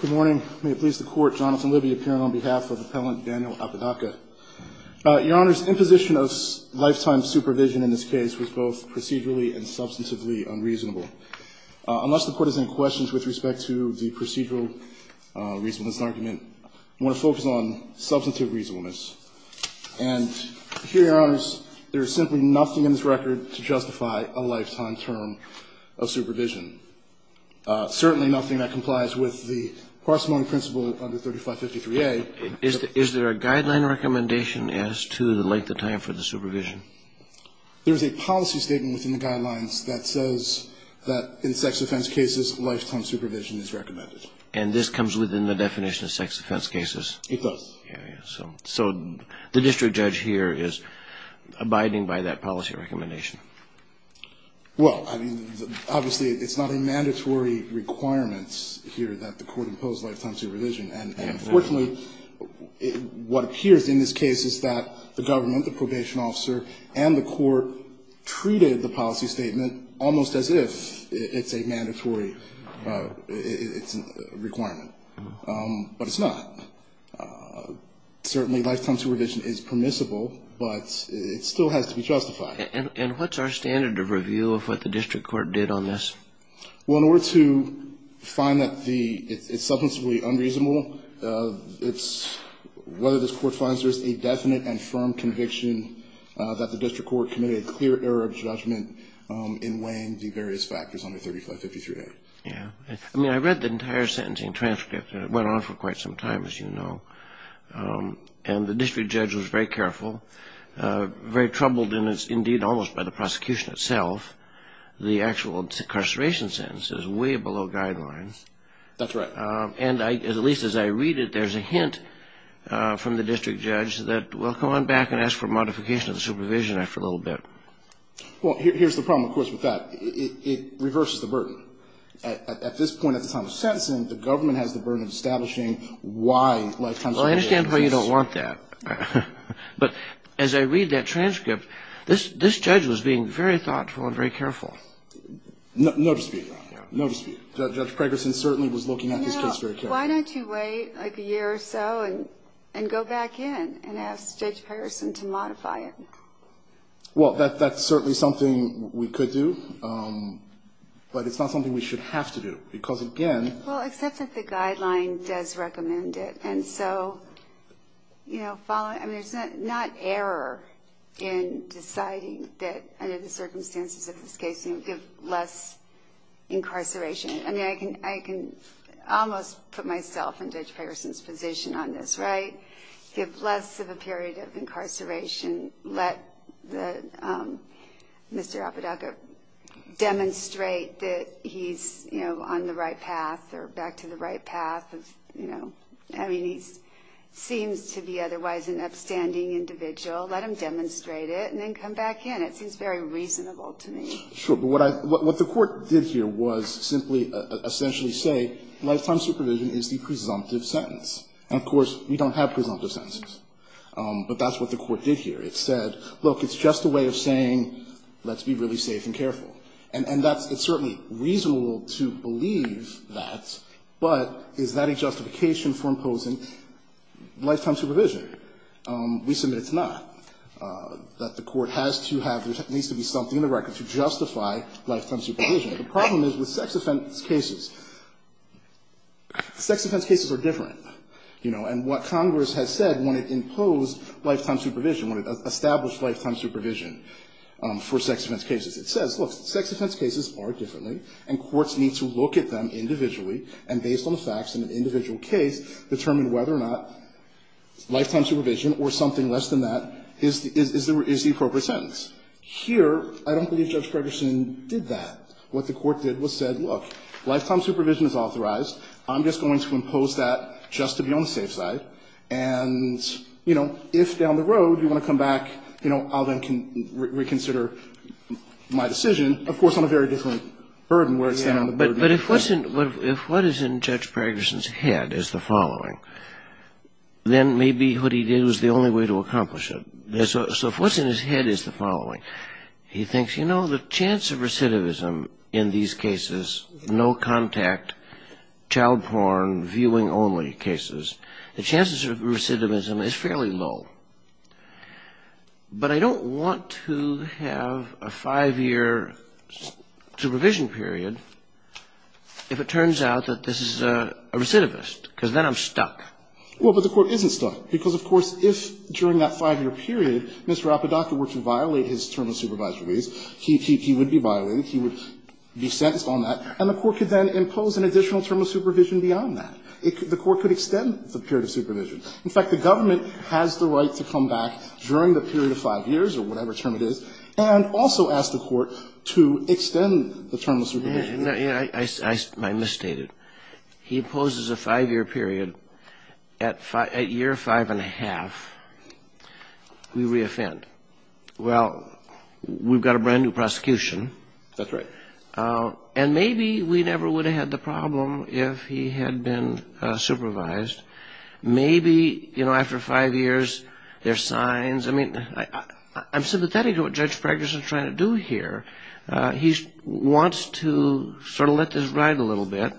Good morning. May it please the Court, Jonathan Libby appearing on behalf of Appellant Daniel Apodaca. Your Honors, imposition of lifetime supervision in this case was both procedurally and substantively unreasonable. Unless the Court is in questions with respect to the procedural reasonableness argument, I want to focus on substantive reasonableness. And here, Your Honors, there is simply nothing in this record to justify a lifetime term of supervision. Certainly nothing that complies with the parsimony principle of the 3553A. Is there a guideline recommendation as to the length of time for the supervision? There is a policy statement within the guidelines that says that in sex offense cases, lifetime supervision is recommended. And this comes within the definition of sex offense cases? It does. So the district judge here is abiding by that policy recommendation? Well, I mean, obviously, it's not a mandatory requirement here that the Court impose lifetime supervision. And unfortunately, what appears in this case is that the government, the probation officer, and the Court treated the policy statement almost as if it's a mandatory requirement. But it's not. Certainly, lifetime supervision is permissible, but it still has to be justified. And what's our standard of review of what the district court did on this? Well, in order to find that it's substantively unreasonable, it's whether this Court finds there's a definite and firm conviction that the district court committed a clear error of judgment in weighing the various factors on the 3553A. Yeah. I mean, I read the entire sentencing transcript, and it went on for quite some time, as you know. And the district judge was very careful, very troubled, indeed, almost by the prosecution itself. The actual incarceration sentence is way below guidelines. That's right. And at least as I read it, there's a hint from the district judge that, well, come on back and ask for modification of the supervision after a little bit. Well, here's the problem, of course, with that. It reverses the burden. At this point at the time of sentencing, the government has the burden of establishing why lifetime supervision is... Well, I understand why you don't want that. But as I read that transcript, this judge was being very thoughtful and very careful. No dispute about that. No dispute. Judge Pregerson certainly was looking at this case very carefully. You know, why don't you wait like a year or so and go back in and ask Judge Pregerson to modify it? Well, that's certainly something we could do. But it's not something we should have to do. Because, again... Well, except that the guideline does recommend it. And so, you know, following... I mean, there's not error in deciding that under the circumstances of this case you give less incarceration. I mean, I can almost put myself in Judge Pregerson's position on this, right? Give less of a period of incarceration. Let the... Mr. Apodaca demonstrate that he's, you know, on the right path or back to the right path of, you know... I mean, he seems to be otherwise an upstanding individual. Let him demonstrate it and then come back in. It seems very reasonable to me. Sure. But what I... What the court did here was simply essentially say lifetime supervision is the presumptive sentence. And, of course, we don't have presumptive sentences. But that's what the court did here. It said, look, it's just a way of saying let's be really safe and careful. And that's... It's certainly reasonable to believe that, but is that a justification for imposing lifetime supervision? We submit it's not. That the court has to have... There needs to be something in the record to justify lifetime supervision. The problem is with sex offense cases. Sex offense cases are different, you know. And what Congress has said when it imposed lifetime supervision, when it established lifetime supervision for sex offense cases, it says, look, sex offense cases are differently and courts need to look at them individually and based on the facts in an individual case determine whether or not lifetime supervision or something less than that is the appropriate sentence. Here, I don't believe Judge Pregerson did that. What the court did was said, look, lifetime supervision is authorized. I'm just going to impose that just to be on the safe side. And, you know, if down the road you want to come back, you know, I'll then reconsider my decision, of course, on a very different burden where it's... But if what's in Judge Pregerson's head is the following, then maybe what he did was the only way to accomplish it. So if what's in his head is the following, he thinks, you know, the chance of recidivism in these cases, no contact, child porn, viewing only cases, the chances of recidivism is fairly low. But I don't want to have a five-year supervision period if it turns out that this is a recidivist because then I'm stuck. Well, but the court isn't stuck because, of course, if during that five-year period Mr. Apodaca were to violate his term of supervised release, he would be violated. He would be sentenced on that. And the court could then impose an additional term of supervision beyond that. The court could extend the period of supervision. In fact, the government has the right to come back during the period of five years or whatever term it is and also ask the court to extend the term of supervision. I misstated. He imposes a five-year period. At year five and a half, we reoffend. Well, we've got a brand-new prosecution. That's right. And maybe we never would have had the problem if he had been supervised. Maybe, you know, after five years, there are signs. I mean, I'm sympathetic to what Judge Pregnison is trying to do here. He wants to sort of let this ride a little bit,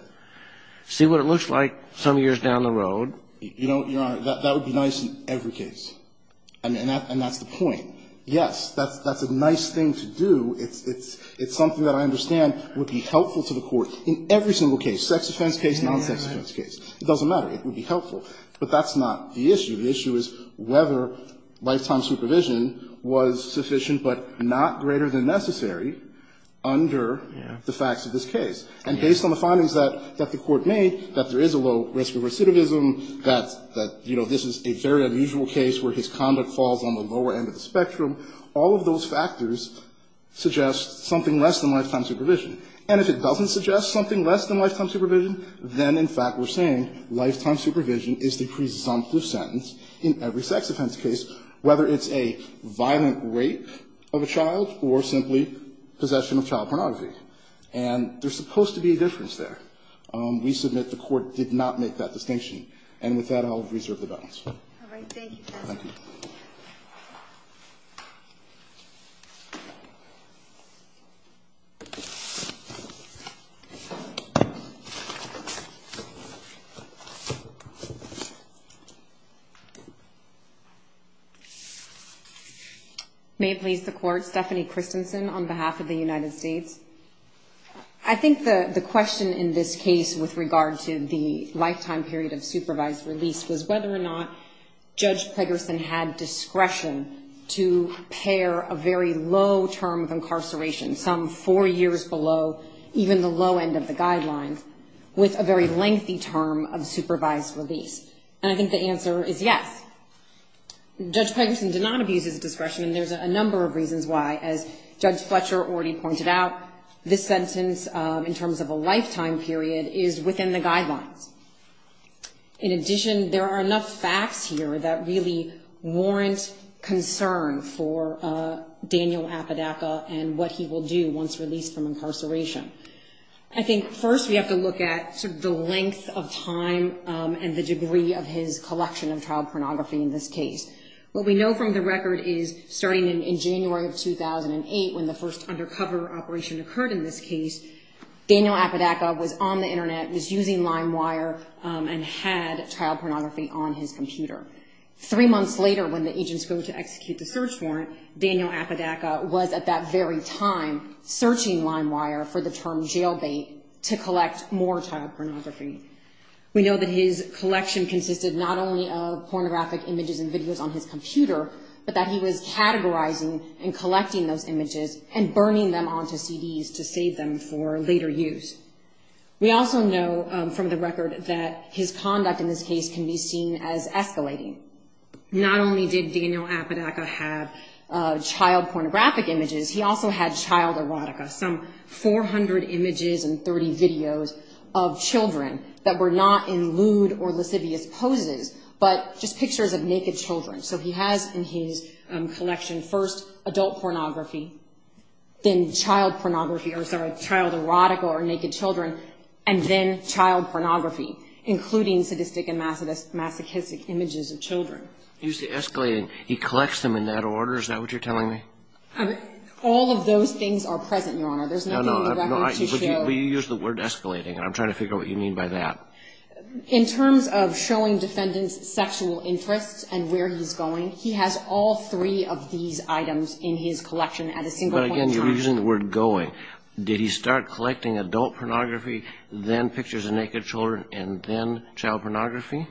see what it looks like some years down the road. You know, Your Honor, that would be nice in every case. And that's the point. Yes, that's a nice thing to do. It's something that I understand would be helpful to the court in every single case, sex offense case, non-sex offense case. It doesn't matter. It would be helpful. But that's not the issue. The issue is whether lifetime supervision was sufficient but not greater than necessary under the facts of this case. And based on the findings that the court made, that there is a low risk of recidivism, that, you know, this is a very unusual case where his conduct falls on the lower end of the spectrum, all of those factors suggest something less than lifetime supervision. And if it doesn't suggest something less than lifetime supervision, then, in fact, we're saying lifetime supervision is the presumptive sentence in every sex offense case, whether it's a violent rape of a child or simply possession of child pornography. And there's supposed to be a difference there. We submit the Court did not make that distinction. And with that, I'll reserve the balance. All right. May it please the Court. Stephanie Christensen on behalf of the United States. I think the question in this case with regard to the lifetime period of supervised release was whether or not Judge Pegersen had discretion to pair a very low term of incarceration, some four years below even the low end of the guidelines, with a very lengthy term of supervised release. And I think the answer is yes. Judge Pegersen did not abuse his discretion, and there's a number of reasons why. As Judge Fletcher already pointed out, this sentence, in terms of a lifetime period, is within the guidelines. In addition, there are enough facts here that really warrant concern for Daniel Apodaca and what he will do once released from incarceration. I think first we have to look at the length of time and the degree of his collection of child pornography in this case. What we know from the record is starting in January of 2008, when the first undercover operation occurred in this case, Daniel Apodaca was on the Internet, was using LimeWire, and had child pornography on his computer. Three months later, when the agents go to execute the search warrant, Daniel Apodaca was at that very time searching LimeWire for the term jailbait to collect more child pornography. We know that his collection consisted not only of pornographic images and videos on his computer, but that he was categorizing and collecting those images and burning them onto CDs to save them for later use. We also know from the record that his conduct in this case can be seen as escalating. Not only did Daniel Apodaca have child pornographic images, he also had child erotica, some 400 images and 30 videos of children that were not in lewd or lascivious poses, but just pictures of naked children. So he has in his collection first adult pornography, then child pornography, or sorry, child erotica or naked children, and then child pornography, including sadistic and masochistic images of children. Usually escalating. He collects them in that order? Is that what you're telling me? All of those things are present, Your Honor. There's nothing in the record to show. No, no. But you use the word escalating, and I'm trying to figure out what you mean by that. In terms of showing defendants' sexual interests and where he's going, he has all three of these items in his collection at a single point in time. But again, you're using the word going. Did he start collecting adult pornography, then pictures of naked children, and then child pornography?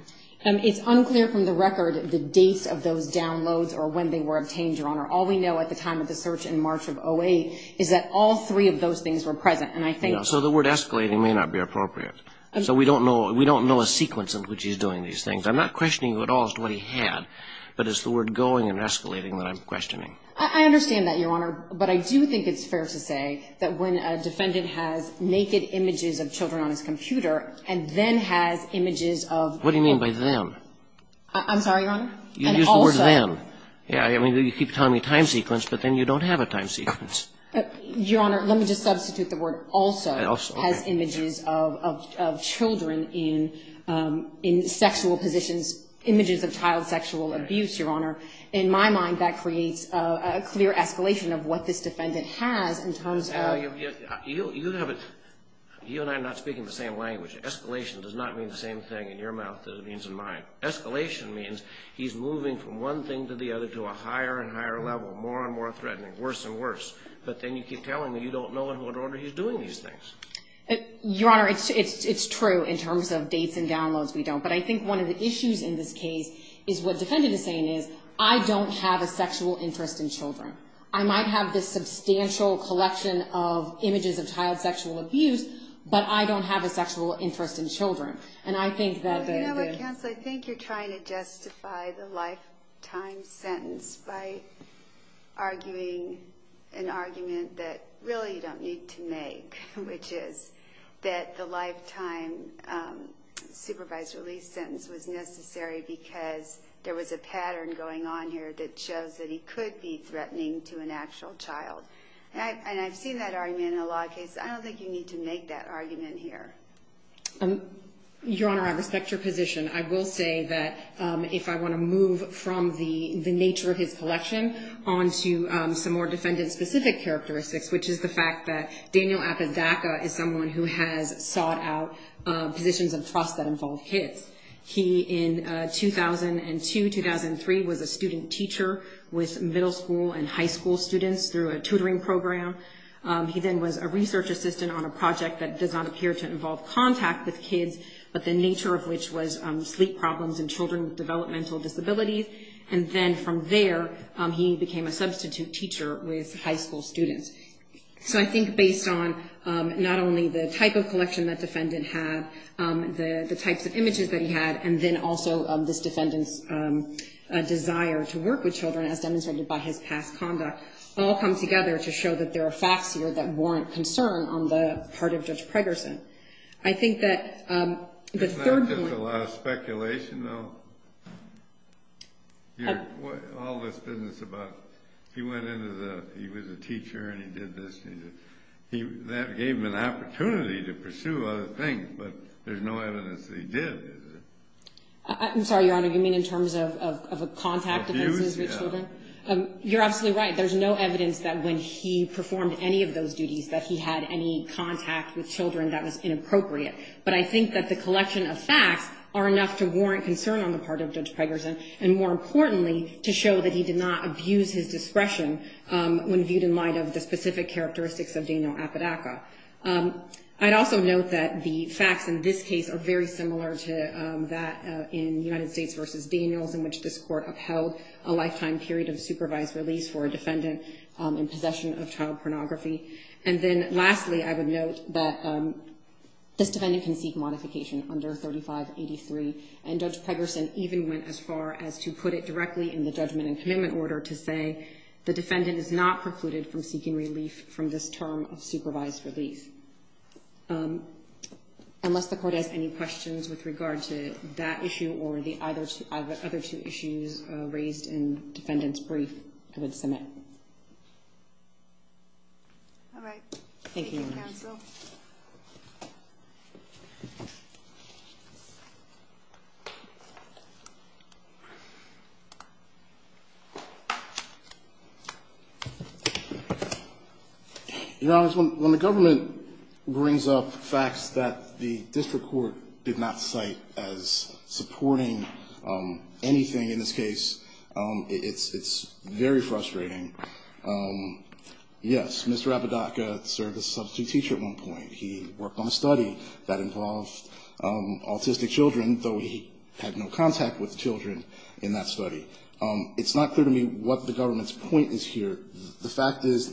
It's unclear from the record the dates of those downloads or when they were obtained, Your Honor. All we know at the time of the search in March of 08 is that all three of those things were present, and I think... So the word escalating may not be appropriate. So we don't know a sequence in which he's doing these things. I'm not questioning you at all as to what he had, but it's the word going and escalating that I'm questioning. I understand that, Your Honor, but I do think it's fair to say that when a defendant has naked images of children on his computer and then has images of... What do you mean by them? I'm sorry, Your Honor? You used the word them. Yeah. I mean, you keep telling me time sequence, but then you don't have a time sequence. Your Honor, let me just substitute the word also. Also. Has images of children in sexual positions, images of child sexual abuse, Your Honor. In my mind, that creates a clear escalation of what this defendant has in terms of... You have a... You and I are not speaking the same language. Escalation does not mean the same thing in your mouth that it means in mine. Escalation means he's moving from one thing to the other to a higher and higher level, more and more threatening, worse and worse, but then you keep telling me you don't know in what order he's doing these things. Your Honor, it's true in terms of dates and downloads we don't, but I think one of the issues in this case is what the defendant is saying is, I don't have a sexual interest in children. I might have this substantial collection of images of child sexual abuse, but I don't have a sexual interest in children, and I think that... You know what, counsel, I think you're trying to justify the lifetime sentence by arguing an argument that really you don't need to make, which is that the lifetime supervised release sentence was necessary because there was a pattern going on here that shows that he could be threatening to an actual child. And I've seen that argument in a lot of cases. I don't think you need to make that argument here. Your Honor, I respect your position. I will say that if I want to move from the nature of his collection on to some more defendant-specific characteristics, which is the fact that Daniel Apodaca is someone who has sought out positions of trust that involve kids. He, in 2002-2003, was a student teacher with middle school and high school students through a tutoring program. He then was a research assistant on a project that does not appear to involve contact with kids, but the nature of which was sleep problems in children with developmental disabilities. And then from there, he became a substitute teacher with high school students. So I think based on not only the type of collection that defendant had, the types of images that he had, and then also this defendant's desire to work with children as demonstrated by his past conduct all come together to show that there are facts here that warrant concern on the part of Judge Pregerson. I think that the third point— Isn't that just a lot of speculation, though? All this business about he went into the—he was a teacher and he did this. That gave him an opportunity to pursue other things, but there's no evidence that he did. I'm sorry, Your Honor. What do you mean in terms of contact offenses with children? Abuse, yeah. You're absolutely right. There's no evidence that when he performed any of those duties that he had any contact with children. That was inappropriate. But I think that the collection of facts are enough to warrant concern on the part of Judge Pregerson, and more importantly, to show that he did not abuse his discretion when viewed in light of the specific characteristics of Daniel Apodaca. I'd also note that the facts in this case are very similar to that in United States v. Daniels, in which this court upheld a lifetime period of supervised release for a defendant in possession of child pornography. And then lastly, I would note that this defendant can seek modification under 3583, and Judge Pregerson even went as far as to put it directly in the judgment and commitment order to say, the defendant is not precluded from seeking relief from this term of supervised release. Unless the court has any questions with regard to that issue or the other two issues raised in defendant's brief, I would submit. All right. Thank you, counsel. Your Honor, when the government brings up facts that the district court did not cite as supporting anything in this case, it's very frustrating. Yes, Mr. Apodaca served as a substitute teacher at one point. He worked on a study that involved autistic children, though he had no contact with children in that study. It's not clear to me what the government's point is here. The fact is,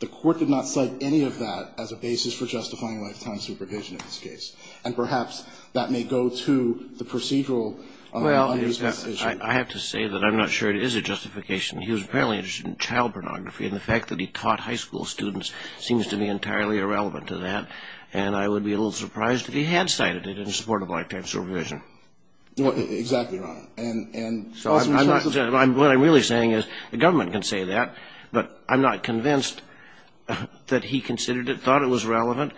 the court did not cite any of that as a basis for justifying lifetime supervision in this case. And perhaps that may go to the procedural. Well, I have to say that I'm not sure it is a justification. He was apparently interested in child pornography, and the fact that he taught high school students seems to be entirely irrelevant to that. And I would be a little surprised if he had cited it in support of lifetime supervision. Exactly, Your Honor. What I'm really saying is the government can say that, but I'm not convinced that he considered it, thought it was relevant.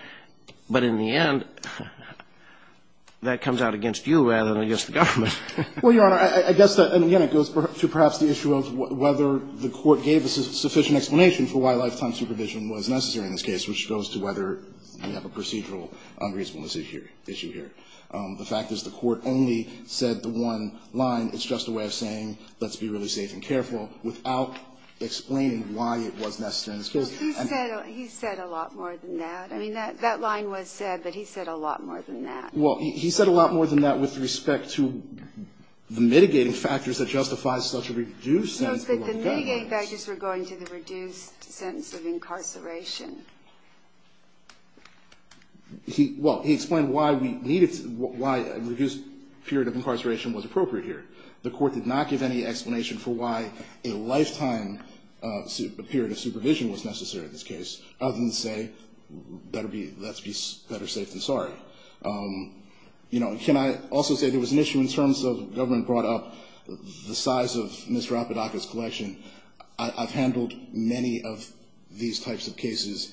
But in the end, that comes out against you rather than against the government. Well, Your Honor, I guess that, again, it goes to perhaps the issue of whether the court gave a sufficient explanation for why lifetime supervision was necessary in this case, which goes to whether we have a procedural unreasonableness issue here. The fact is, the court only said the one line, it's just a way of saying let's be really safe and careful, without explaining why it was necessary in this case. Well, he said a lot more than that. I mean, that line was said, but he said a lot more than that. Well, he said a lot more than that with respect to the mitigating factors that justify such a reduced sentence. No, but the mitigating factors were going to the reduced sentence of incarceration. Well, he explained why we needed, why a reduced period of incarceration was appropriate here. The court did not give any explanation for why a lifetime period of supervision was necessary in this case, other than to say let's be better safe than sorry. You know, can I also say there was an issue in terms of government brought up the size of Mr. Apodaca's collection. I've handled many of these types of cases.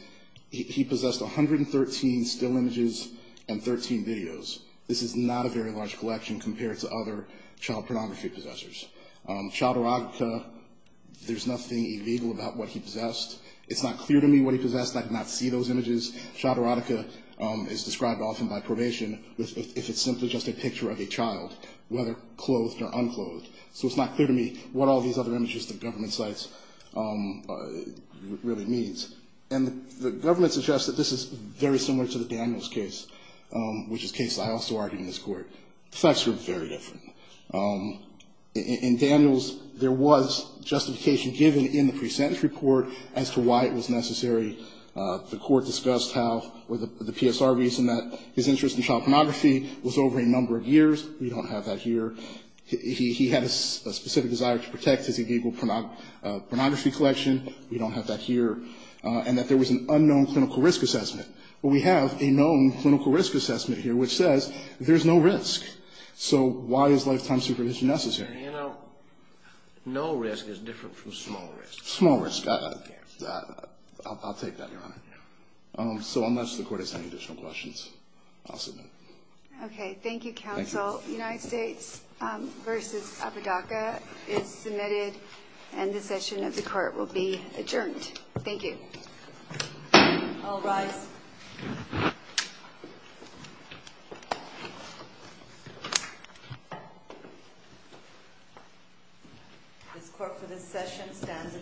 He possessed 113 still images and 13 videos. This is not a very large collection compared to other child pornography possessors. Child erotica, there's nothing illegal about what he possessed. It's not clear to me what he possessed. I did not see those images. Child erotica is described often by probation if it's simply just a picture of a child, whether clothed or unclothed. So it's not clear to me what all these other images the government cites really means. And the government suggests that this is very similar to the Daniels case, which is a case I also argued in this court. The facts were very different. In Daniels, there was justification given in the pre-sentence report as to why it was necessary. The court discussed how, or the PSR reason that his interest in child pornography was over a number of years. We don't have that here. He had a specific desire to protect his illegal pornography collection. We don't have that here. And that there was an unknown clinical risk assessment. Well, we have a known clinical risk assessment here, which says there's no risk. So why is lifetime supervision necessary? You know, no risk is different from small risk. Small risk. I'll take that, Your Honor. So unless the court has any additional questions, I'll submit. Okay. Thank you, counsel. United States v. Apodaca is submitted, and the session of the court will be adjourned. Thank you. All rise. This court for this session stands adjourned.